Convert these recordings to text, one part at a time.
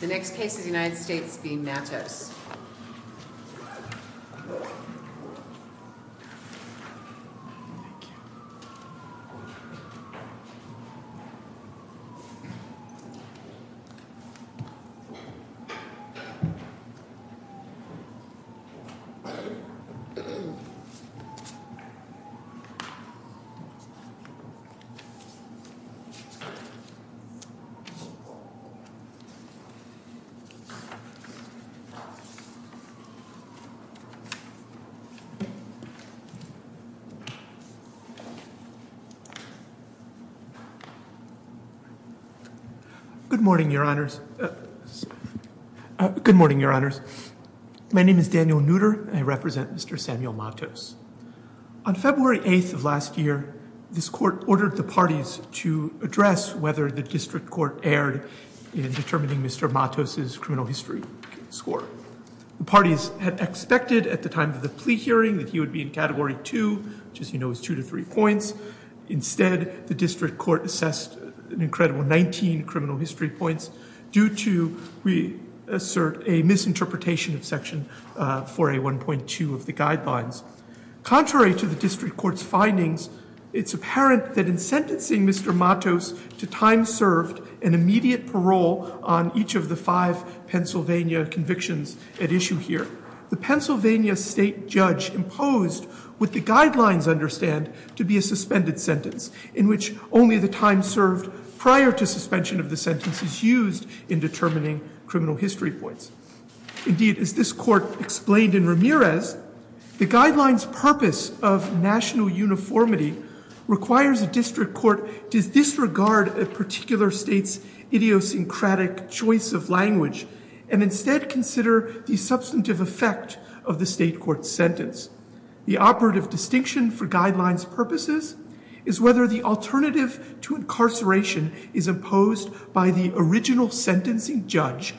The next case is United States v. Matos Good morning, your honors. My name is Daniel Nutter and I represent Mr. Samuel Matos. On February 8th of last year, this court ordered the parties to address whether the district court erred in determining Mr. Matos' criminal history score. The parties had expected at the time of the plea hearing that he would be in Category 2, which as you know is 2 to 3 points. Instead, the district court assessed an incredible 19 criminal history points due to, we assert, a misinterpretation of Section 4A1.2 of the guidelines. Contrary to the district court's findings, it's apparent that in sentencing Mr. Matos to time served and immediate parole on each of the five Pennsylvania convictions at issue here. The Pennsylvania state judge imposed what the guidelines understand to be a suspended sentence in which only the time served prior to suspension of the sentence is used in determining criminal history points. Indeed, as this court explained in Ramirez, the guidelines' purpose of national uniformity requires a district court to disregard a particular state's idiosyncratic choice of language and instead consider the substantive effect of the state court's sentence. The operative distinction for guidelines' purposes is whether the alternative to incarceration is imposed by the original sentencing judge,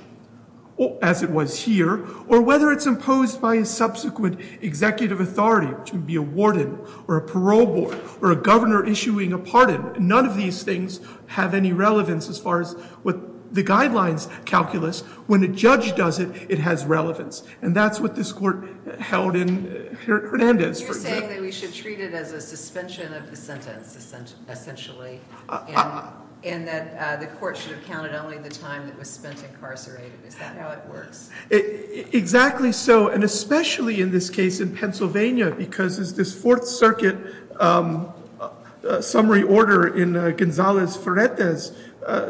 as it was here, or whether it's imposed by subsequent executive authority, which would be a warden, or a parole board, or a governor issuing a pardon. None of these things have any relevance as far as what the guidelines calculus. When a judge does it, it has relevance. And that's what this court held in Hernandez, for example. You're saying that we should treat it as a suspension of the sentence, essentially, and that the court should have counted only the time that was spent incarcerated. Is that how it works? Exactly so. And especially in this case in Pennsylvania, because as this Fourth Circuit summary order in Gonzalez-Ferreta's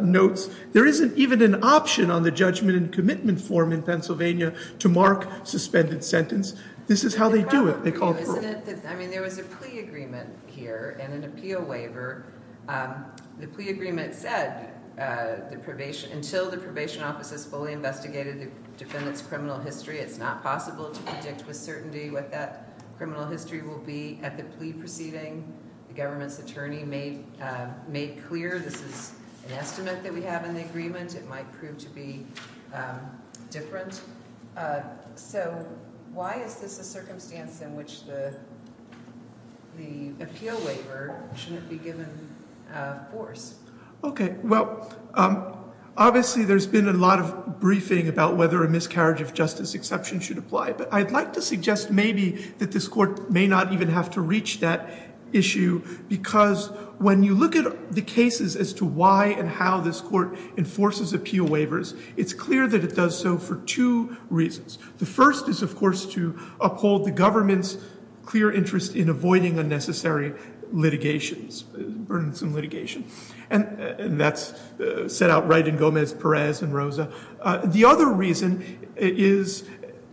notes, there isn't even an option on the judgment and commitment form in Pennsylvania to mark suspended sentence. This is how they do it. They call it proof. Isn't it? I mean, there was a plea agreement here and an appeal waiver. The plea agreement said, until the probation office has fully investigated the defendant's criminal history, it's not possible to predict with certainty what that criminal history will be at the plea proceeding. The government's attorney made clear this is an estimate that we have in the agreement. It might prove to be different. So why is this a circumstance in which the appeal waiver shouldn't be given force? Okay. Well, obviously there's been a lot of briefing about whether a miscarriage of justice exception should apply. But I'd like to suggest maybe that this court may not even have to reach that issue because when you look at the cases as to why and how this court enforces appeal waivers, it's clear that it does so for two reasons. The first is, of course, to uphold the government's clear interest in avoiding unnecessary litigations, burdensome litigation. And that's set out right in Gomez-Perez and Rosa. The other reason is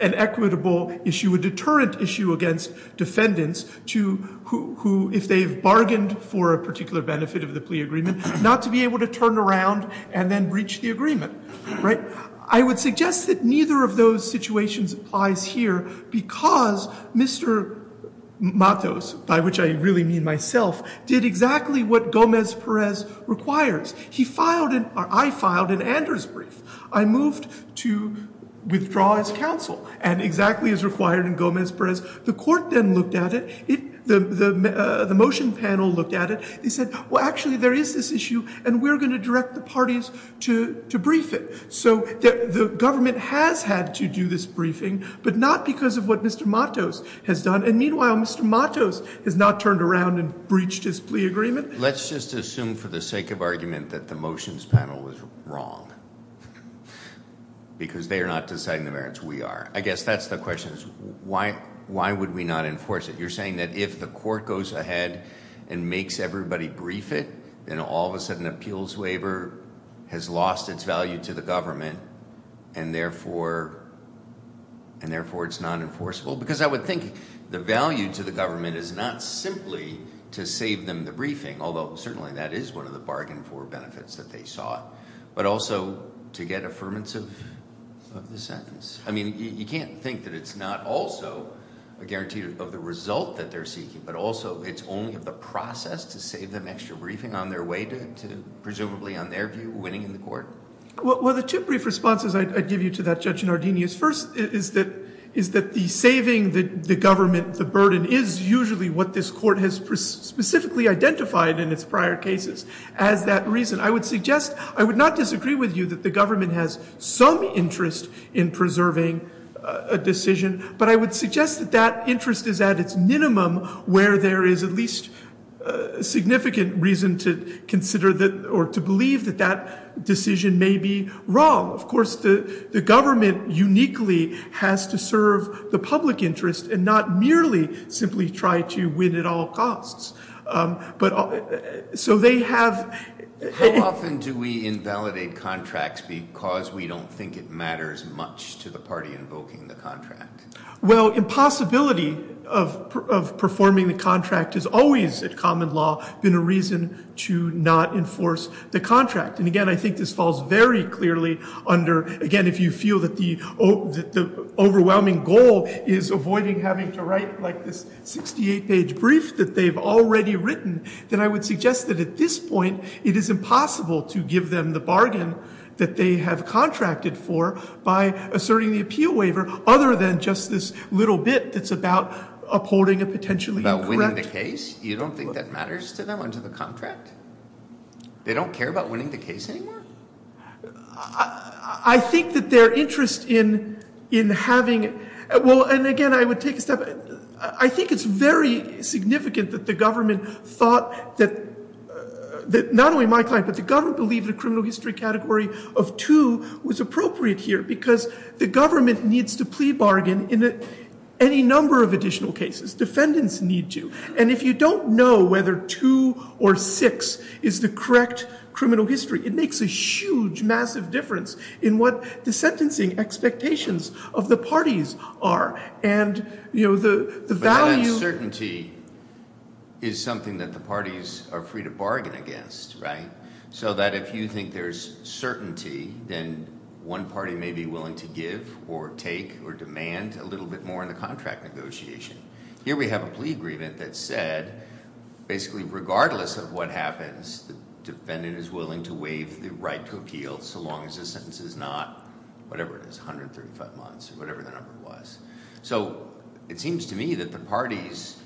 an equitable issue, a deterrent issue against defendants who, if they've bargained for a particular benefit of the plea agreement, not to be able to turn around and then breach the agreement. I would suggest that neither of those situations applies here because Mr. Matos, by which I really mean myself, did exactly what Gomez-Perez requires. I filed an Anders brief. I moved to withdraw his counsel, and exactly as required in Gomez-Perez. The court then looked at it. The motion panel looked at it. They said, well, actually, there is this issue, and we're going to direct the parties to brief it. So the government has had to do this briefing, but not because of what Mr. Matos has done. And meanwhile, Mr. Matos has not turned around and breached his plea agreement. Let's just assume for the sake of argument that the motions panel was wrong because they are not deciding the merits. We are. I guess that's the question is why would we not enforce it? You're saying that if the court goes ahead and makes everybody brief it, then all of a sudden an appeals waiver has lost its value to the government, and therefore it's not enforceable? Because I would think the value to the government is not simply to save them the briefing, although certainly that is one of the bargain for benefits that they sought, but also to get affirmance of the sentence. I mean, you can't think that it's not also a guarantee of the result that they're seeking, but also it's only of the process to save them extra briefing on their way to presumably, on their view, winning in the court. Well, the two brief responses I'd give you to that, Judge Nardini, is first is that the saving the government the burden is usually what this court has specifically identified in its prior cases as that reason. I would suggest, I would not disagree with you that the government has some interest in preserving a decision, but I would suggest that that interest is at its minimum where there is at least significant reason to consider or to believe that that decision may be wrong. Of course, the government uniquely has to serve the public interest and not merely simply try to win at all costs. But, so they have... How often do we invalidate contracts because we don't think it matters much to the party invoking the contract? Well, impossibility of performing the contract is always, at common law, been a reason to not enforce the contract. And again, I think this falls very clearly under, again, if you feel that the overwhelming goal is avoiding having to write like this 68-page brief that they've already written, then I would suggest that at this point it is impossible to give them the bargain that they have contracted for by asserting the appeal waiver other than just this little bit that's about upholding a potentially incorrect... About winning the case? You don't think that matters to them under the contract? They don't care about winning the case anymore? I think that their interest in having... Well, and again, I would take a step... I think it's very significant that the government thought that... Not only my client, but the government believed the criminal history category of 2 was appropriate here because the government needs to plea bargain in any number of additional cases. Defendants need to. And if you don't know whether 2 or 6 is the correct criminal history, it makes a huge, massive difference in what the sentencing expectations of the parties are and the value... But that uncertainty is something that the parties are free to bargain against, right? So that if you think there's certainty, then one party may be willing to give or take or demand a little bit more in the contract negotiation. Here we have a plea agreement that said basically regardless of what happens, the defendant is willing to waive the right to appeal so long as the sentence is not whatever it is, 135 months or whatever the number was. So it seems to me that the parties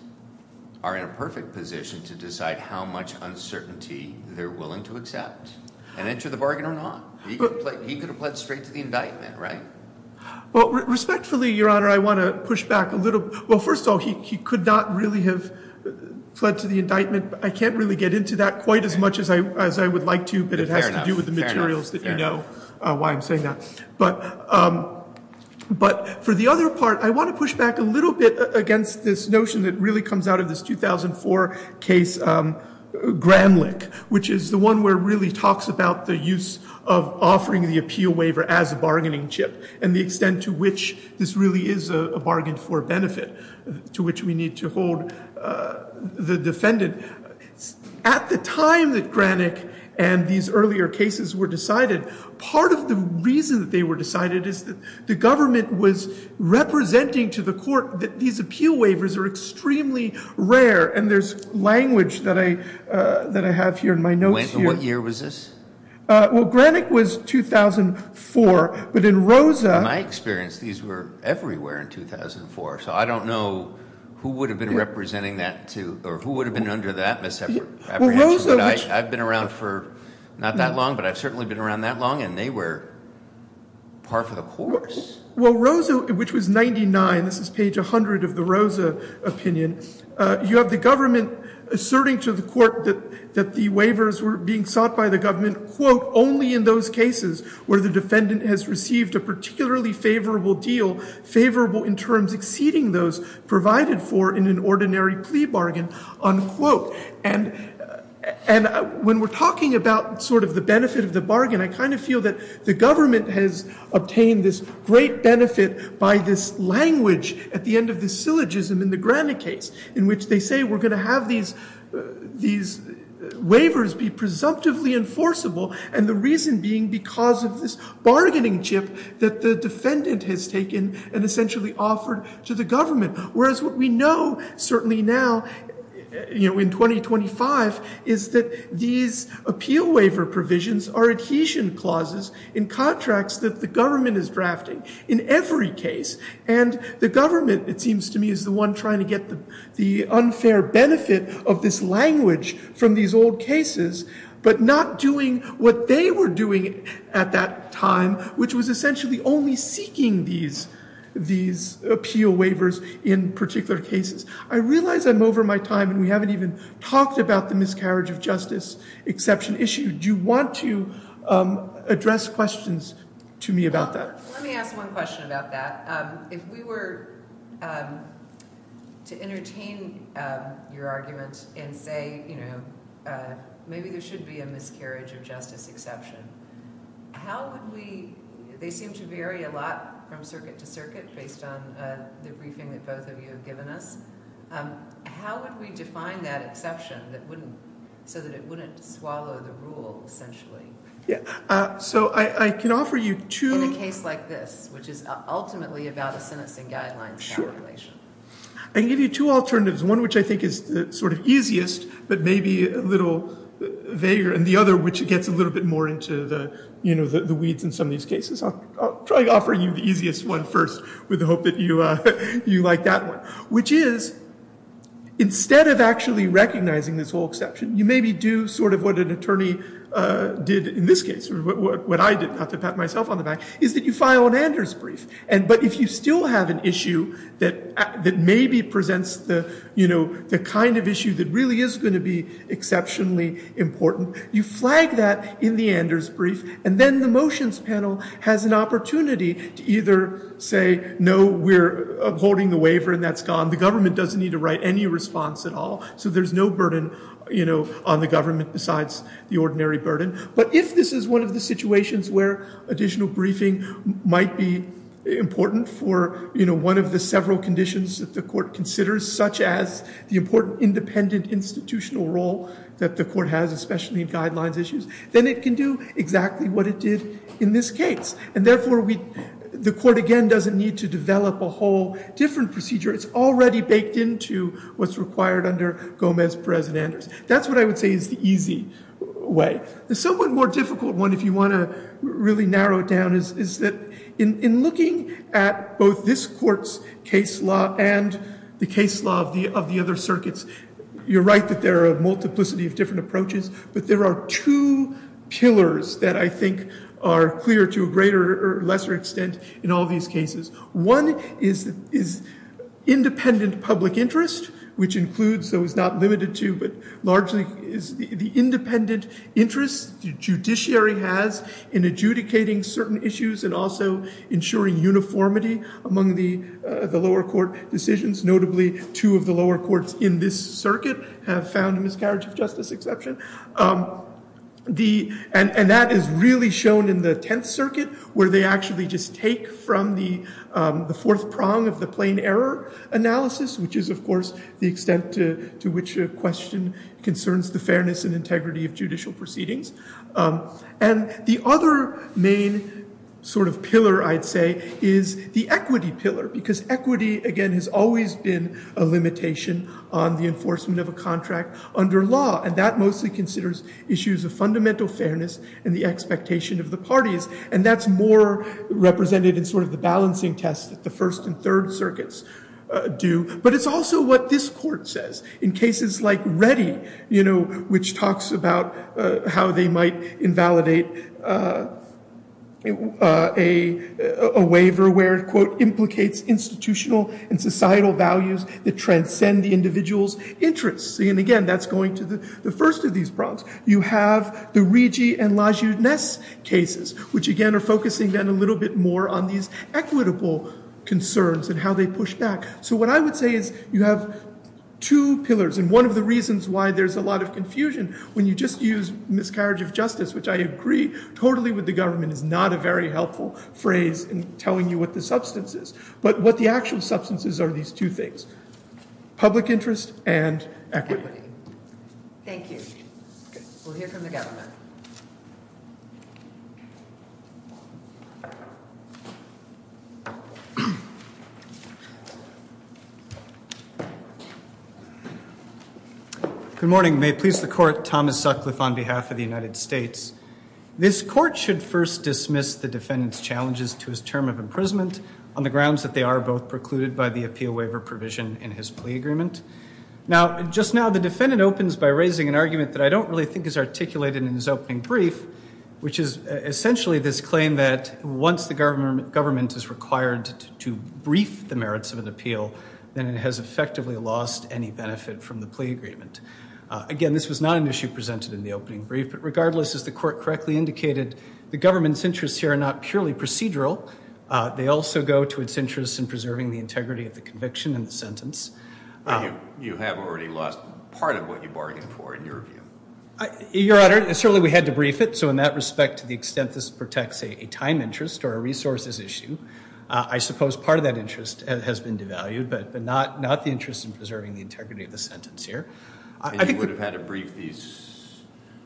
are in a perfect position to decide how much uncertainty they're willing to accept and enter the bargain or not. He could have pled straight to the indictment, right? Well, respectfully, Your Honor, I want to push back a little. Well, first of all, he could not really have pled to the indictment. I can't really get into that quite as much as I would like to, but it has to do with the materials that you know why I'm saying that. But for the other part, I want to push back a little bit against this notion that really comes out of this 2004 case, Gramlich, which is the one where it really talks about the use of offering the appeal waiver as a bargaining chip and the extent to which this really is a bargain for benefit to which we need to hold the defendant. At the time that Gramlich and these earlier cases were decided, part of the reason that they were decided is that the government was representing to the court that these appeal waivers are extremely rare and there's language that I have here in my notes here. What year was this? Well, Gramlich was 2004, but in Rosa... In my experience, these were everywhere in 2004, so I don't know who would have been representing that or who would have been under that misapprehension. I've been around for not that long, but I've certainly been around that long and they were par for the course. Well, Rosa, which was 99, this is page 100 of the Rosa opinion, you have the government asserting to the court that the waivers were being sought by the government only in those cases where the defendant has received a particularly favourable deal, favourable in terms exceeding those provided for in an ordinary plea bargain, unquote. And when we're talking about sort of the benefit of the bargain, I kind of feel that the government has obtained this great benefit by this language at the end of the syllogism in the Gramlich case, in which they say we're going to have these waivers be presumptively enforceable, and the reason being because of this bargaining chip that the defendant has taken and essentially offered to the government, whereas what we know certainly now, you know, in 2025, is that these appeal waiver provisions are adhesion clauses in contracts that the government is drafting in every case. And the government, it seems to me, is the one trying to get the unfair benefit of this language from these old cases, but not doing what they were doing at that time, which was essentially only seeking these appeal waivers in particular cases. I realize I'm over my time, and we haven't even talked about the miscarriage of justice exception issue. Do you want to address questions to me about that? Let me ask one question about that. If we were to entertain your argument and say, you know, maybe there should be a miscarriage of justice exception, how would we... They seem to vary a lot from circuit to circuit based on the briefing that both of you have given us. How would we define that exception so that it wouldn't swallow the rule, essentially? Yeah, so I can offer you two... In a case like this, which is ultimately about a sentencing guidelines calculation. I can give you two alternatives, one which I think is the sort of easiest, but may be a little vaguer, and the other which gets a little bit more into the weeds in some of these cases. I'll try offering you the easiest one first with the hope that you like that one. Which is, instead of actually recognizing this whole exception, you maybe do sort of what an attorney did in this case, what I did, not to pat myself on the back, is that you file an Anders brief. But if you still have an issue that maybe presents the kind of issue that really is going to be exceptionally important, you flag that in the Anders brief, and then the motions panel has an opportunity to either say, no, we're upholding the waiver and that's gone, the government doesn't need to write any response at all, so there's no burden on the government besides the ordinary burden. But if this is one of the situations where additional briefing might be important for one of the several conditions that the court considers, such as the important independent institutional role that the court has, especially in guidelines issues, then it can do exactly what it did in this case. And therefore, the court, again, doesn't need to develop a whole different procedure. It's already baked into what's required under Gomez-Perez and Anders. That's what I would say is the easy way. The somewhat more difficult one, if you want to really narrow it down, is that in looking at both this court's case law and the case law of the other circuits, you're right that there are a multiplicity of different approaches, but there are two pillars that I think are clear to a greater or lesser extent in all these cases. One is independent public interest, which includes, though is not limited to, but largely is the independent interest the judiciary has in adjudicating certain issues and also ensuring uniformity among the lower court decisions. Notably, two of the lower courts in this circuit have found a miscarriage of justice exception. And that is really shown in the Tenth Circuit, where they actually just take from the fourth prong of the plain error analysis, which is, of course, the extent to which a question concerns the fairness and integrity of judicial proceedings. And the other main sort of pillar, I'd say, is the equity pillar, because equity, again, has always been a limitation on the enforcement of a contract under law, and that mostly considers issues of fundamental fairness and the expectation of the parties. And that's more represented in sort of the balancing test that the First and Third Circuits do. But it's also what this court says. In cases like Reddy, you know, which talks about how they might invalidate a waiver where it, quote, implicates institutional and societal values that transcend the individual's interests. And again, that's going to the first of these prongs. You have the Rigi and Lajeunesse cases, which, again, are focusing then a little bit more on these equitable concerns and how they push back. So what I would say is you have two pillars, and one of the reasons why there's a lot of confusion when you just use miscarriage of justice, which I agree totally with the government, is not a very helpful phrase in telling you what the substance is. But what the actual substance is are these two things, public interest and equity. Thank you. We'll hear from the government. Good morning. May it please the Court, Thomas Sutcliffe on behalf of the United States. This court should first dismiss the defendant's challenges to his term of imprisonment on the grounds that they are both precluded by the appeal waiver provision in his plea agreement. Now, just now the defendant opens by raising an argument that I don't really think is articulated in his opening brief, which is essentially this claim that once the government is required to brief the merits of an appeal, then it has effectively lost any benefit from the plea agreement. Again, this was not an issue presented in the opening brief, but regardless, as the court correctly indicated, the government's interests here are not purely procedural. They also go to its interests in preserving the integrity of the conviction and the sentence. You have already lost part of what you bargained for, in your view. Your Honor, certainly we had to brief it, so in that respect, to the extent this protects a time interest or a resources issue, I suppose part of that interest has been devalued, but not the interest in preserving the integrity of the sentence here. You would have had to brief these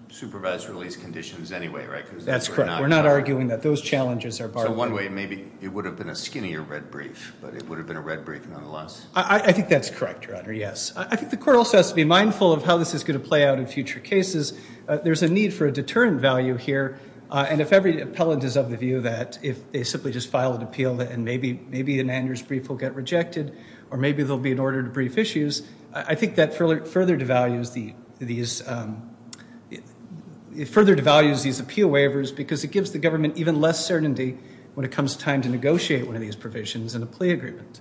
supervised release conditions anyway, right? That's correct. We're not arguing that those challenges are bargained for. So one way, maybe it would have been a skinnier red brief, but it would have been a red brief nonetheless. I think that's correct, Your Honor, yes. I think the court also has to be mindful of how this is going to play out in future cases. There's a need for a deterrent value here, and if every appellant is of the view that if they simply just file an appeal and maybe an annuars brief will get rejected, or maybe there'll be an order to brief issues, I think that further devalues these appeal waivers because it gives the government even less certainty when it comes time to negotiate one of these provisions in a plea agreement.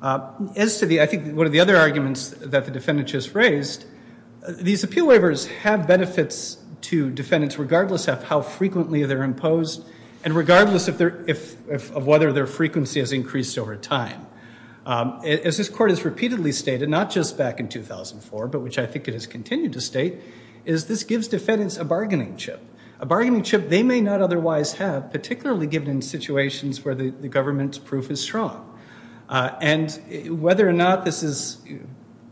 I think one of the other arguments that the defendant just raised, these appeal waivers have benefits to defendants regardless of how frequently they're imposed and regardless of whether their frequency has increased over time. As this court has repeatedly stated, not just back in 2004, but which I think it has continued to state, is this gives defendants a bargaining chip, a bargaining chip they may not otherwise have, particularly given in situations where the government's proof is strong. And whether or not this is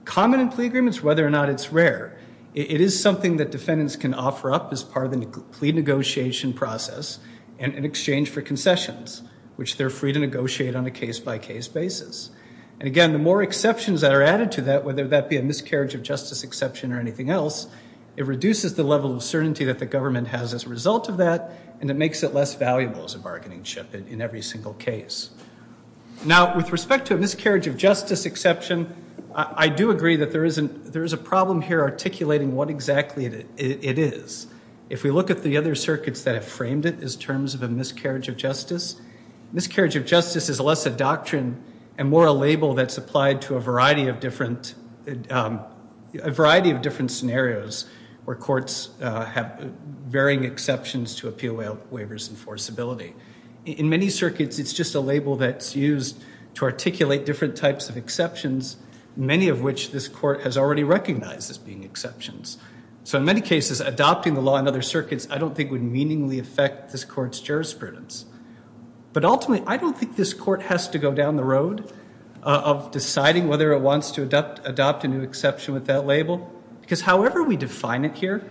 common in plea agreements, whether or not it's rare, it is something that defendants can offer up as part of the plea negotiation process in exchange for concessions, which they're free to negotiate on a case-by-case basis. And again, the more exceptions that are added to that, whether that be a miscarriage of justice exception or anything else, it reduces the level of certainty that the government has as a result of that and it makes it less valuable as a bargaining chip in every single case. Now, with respect to a miscarriage of justice exception, I do agree that there is a problem here articulating what exactly it is. If we look at the other circuits that have framed it as terms of a miscarriage of justice, miscarriage of justice is less a doctrine and more a label that's applied to a variety of different scenarios where courts have varying exceptions to appeal waivers and forcibility. In many circuits, it's just a label that's used to articulate different types of exceptions, many of which this court has already recognized as being exceptions. So in many cases, adopting the law in other circuits I don't think would meaningly affect this court's jurisprudence. But ultimately, I don't think this court has to go down the road of deciding whether it wants to adopt a new exception with that label because however we define it here,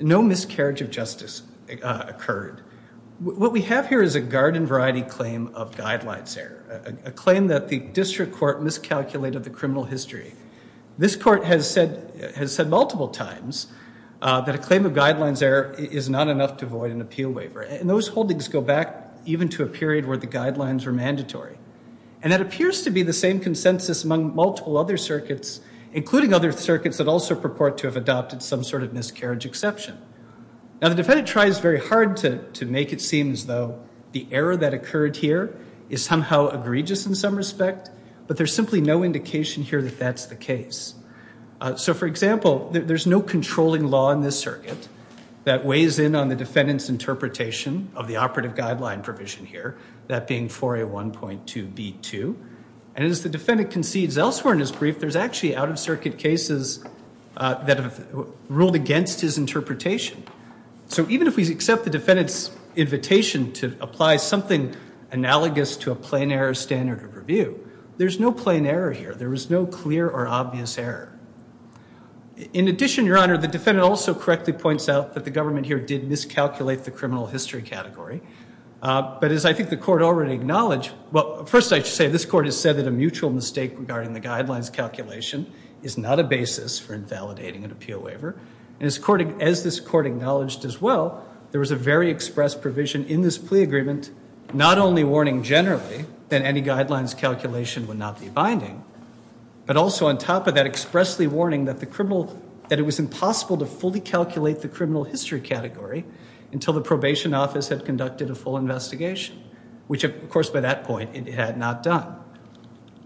no miscarriage of justice occurred. What we have here is a garden-variety claim of guidelines error, a claim that the district court miscalculated the criminal history. This court has said multiple times that a claim of guidelines error is not enough to avoid an appeal waiver. And those holdings go back even to a period where the guidelines were mandatory. And that appears to be the same consensus among multiple other circuits, that also purport to have adopted some sort of miscarriage exception. Now the defendant tries very hard to make it seem as though the error that occurred here is somehow egregious in some respect, but there's simply no indication here that that's the case. So for example, there's no controlling law in this circuit that weighs in on the defendant's interpretation of the operative guideline provision here, that being 4A1.2b2. And as the defendant concedes elsewhere in his brief, there's actually out-of-circuit cases that have ruled against his interpretation. So even if we accept the defendant's invitation to apply something analogous to a plain error standard of review, there's no plain error here. There is no clear or obvious error. In addition, Your Honor, the defendant also correctly points out that the government here did miscalculate the criminal history category. But as I think the court already acknowledged, well, first I should say, this court has said that a mutual mistake regarding the guidelines calculation is not a basis for invalidating an appeal waiver. And as this court acknowledged as well, there was a very express provision in this plea agreement, not only warning generally that any guidelines calculation would not be binding, but also on top of that, expressly warning that it was impossible to fully calculate the criminal history category until the probation office had conducted a full investigation, which, of course, by that point it had not done.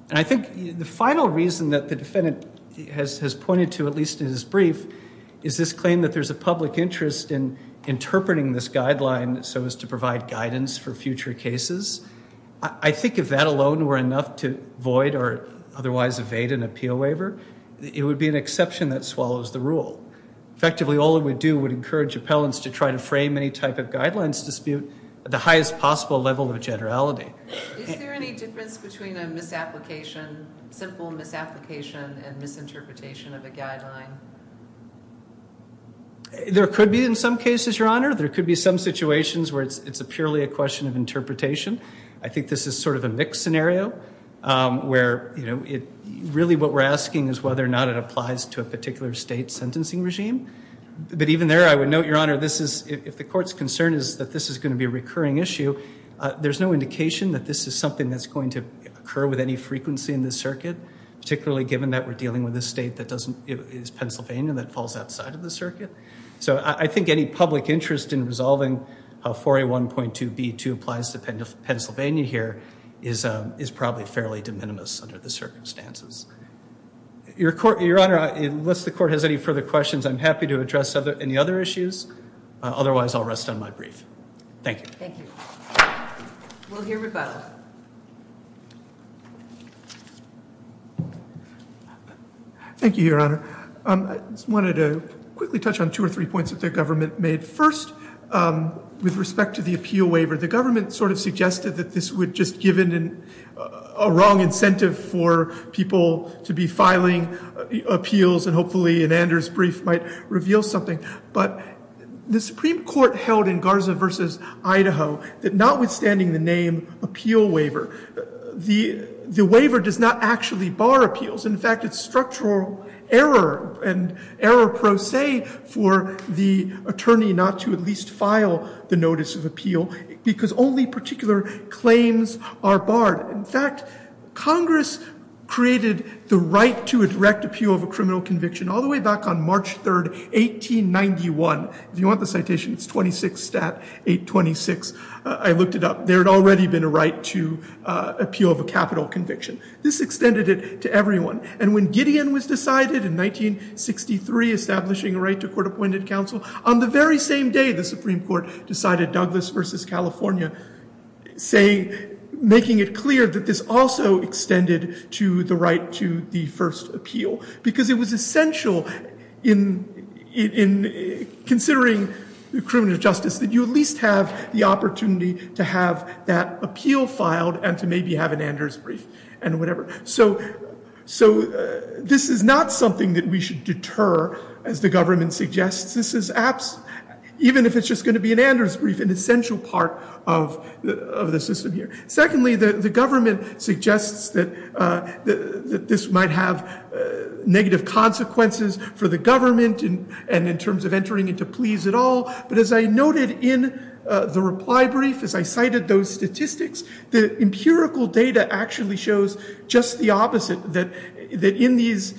And I think the final reason that the defendant has pointed to, at least in his brief, is this claim that there's a public interest in interpreting this guideline so as to provide guidance for future cases. I think if that alone were enough to void or otherwise evade an appeal waiver, it would be an exception that swallows the rule. Effectively, all it would do would encourage appellants to try to frame any type of guidelines dispute at the highest possible level of generality. Is there any difference between a misapplication, simple misapplication, and misinterpretation of a guideline? There could be in some cases, Your Honor. There could be some situations where it's purely a question of interpretation. I think this is sort of a mixed scenario where really what we're asking is whether or not it applies to a particular state sentencing regime. But even there, I would note, Your Honor, if the court's concern is that this is going to be a recurring issue, there's no indication that this is something that's going to occur with any frequency in this circuit, particularly given that we're dealing with a state that is Pennsylvania that falls outside of the circuit. So I think any public interest in resolving how 4A1.2b2 applies to Pennsylvania here is probably fairly de minimis under the circumstances. Your Honor, unless the court has any further questions, I'm happy to address any other issues. Otherwise, I'll rest on my brief. Thank you. We'll hear rebuttal. Thank you, Your Honor. I just wanted to quickly touch on two or three points that the government made. First, with respect to the appeal waiver, the government sort of suggested that this would just give it a wrong incentive for people to be filing appeals and hopefully an Anders brief might reveal something. But the Supreme Court held in Garza v. Idaho that notwithstanding the name appeal waiver, the waiver does not actually bar appeals. In fact, it's structural error and error pro se for the attorney not to at least file the notice of appeal because only particular claims are barred. In fact, Congress created the right to a direct appeal of a criminal conviction all the way back on March 3, 1891. If you want the citation, it's 26 Stat 826. I looked it up. There had already been a right to appeal of a capital conviction. This extended it to everyone. And when Gideon was decided in 1963, establishing a right to court-appointed counsel, on the very same day, the Supreme Court decided Douglas v. California, making it clear that this also extended to the right to the first appeal because it was essential in considering the criminal justice that you at least have the opportunity to have that appeal filed and to maybe have an Anders brief and whatever. So this is not something that we should deter, as the government suggests. Even if it's just going to be an Anders brief, an essential part of the system here. Secondly, the government suggests that this might have negative consequences for the government and in terms of entering into pleas at all. But as I noted in the reply brief, as I cited those statistics, the empirical data actually shows just the opposite, that in these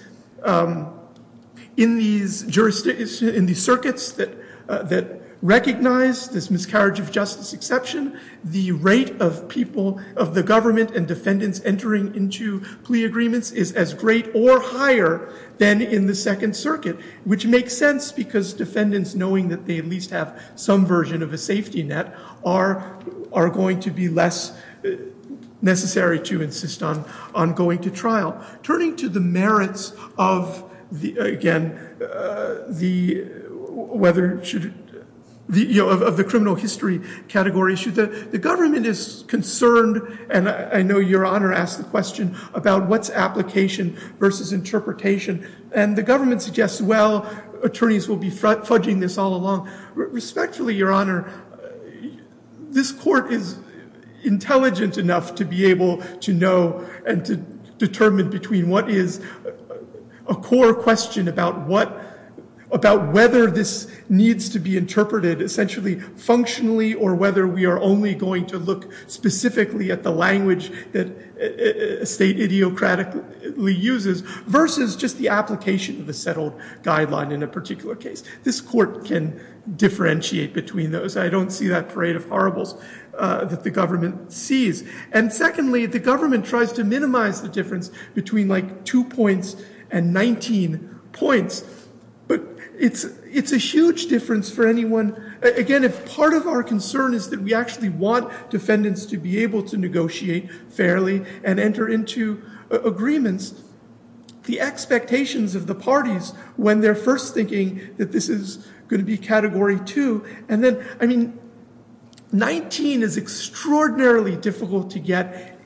circuits that recognize this miscarriage of justice exception, the rate of people, of the government and defendants entering into plea agreements is as great or higher than in the Second Circuit, which makes sense because defendants knowing that they at least have some version of a safety net are going to be less necessary to insist on going to trial. Turning to the merits of the criminal history category, the government is concerned and I know Your Honor asked the question about what's application versus interpretation and the government suggests, well, attorneys will be fudging this all along. Respectfully, Your Honor, this court is intelligent enough to be able to know and to determine between what is a core question about whether this needs to be interpreted essentially functionally or whether we are only going to look specifically at the language that a state ideocratically uses versus just the application of a settled guideline in a particular case. This court can differentiate between those. I don't see that parade of horribles that the government sees. And secondly, the government tries to minimize the difference between like two points and 19 points, but it's a huge difference for anyone. Again, if part of our concern is that we actually want defendants to be able to negotiate fairly and enter into agreements, the expectations of the parties when they're first thinking that this is going to be category two and then, I mean, 19 is extraordinarily difficult to get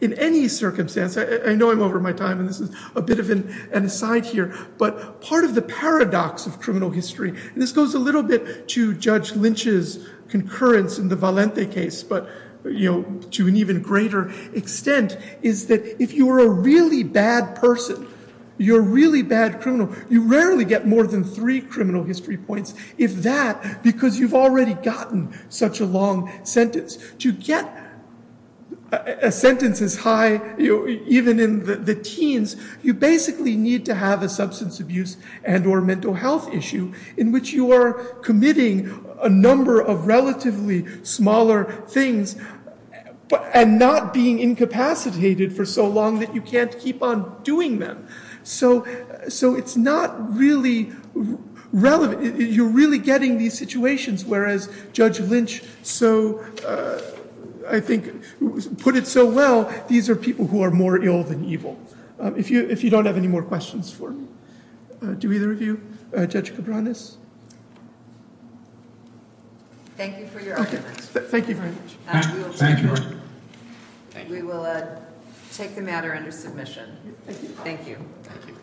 in any circumstance. I know I'm over my time and this is a bit of an aside here, but part of the paradox of criminal history and this goes a little bit to Judge Lynch's concurrence in the Valente case, but to an even greater extent, is that if you're a really bad person, you're a really bad criminal, you rarely get more than three criminal history points if that, because you've already gotten such a long sentence. To get a sentence as high, even in the teens, you basically need to have a substance abuse and or mental health issue in which you are committing a number of relatively smaller things and not being incapacitated for so long that you can't keep on doing them. So it's not really relevant. You're really getting these situations whereas Judge Lynch so, I think, put it so well, these are people who are more ill than evil. If you don't have any more questions for me, do either of you? Judge Cabranes? Thank you for your argument. Thank you very much. Thank you. We will take the matter under submission. Thank you.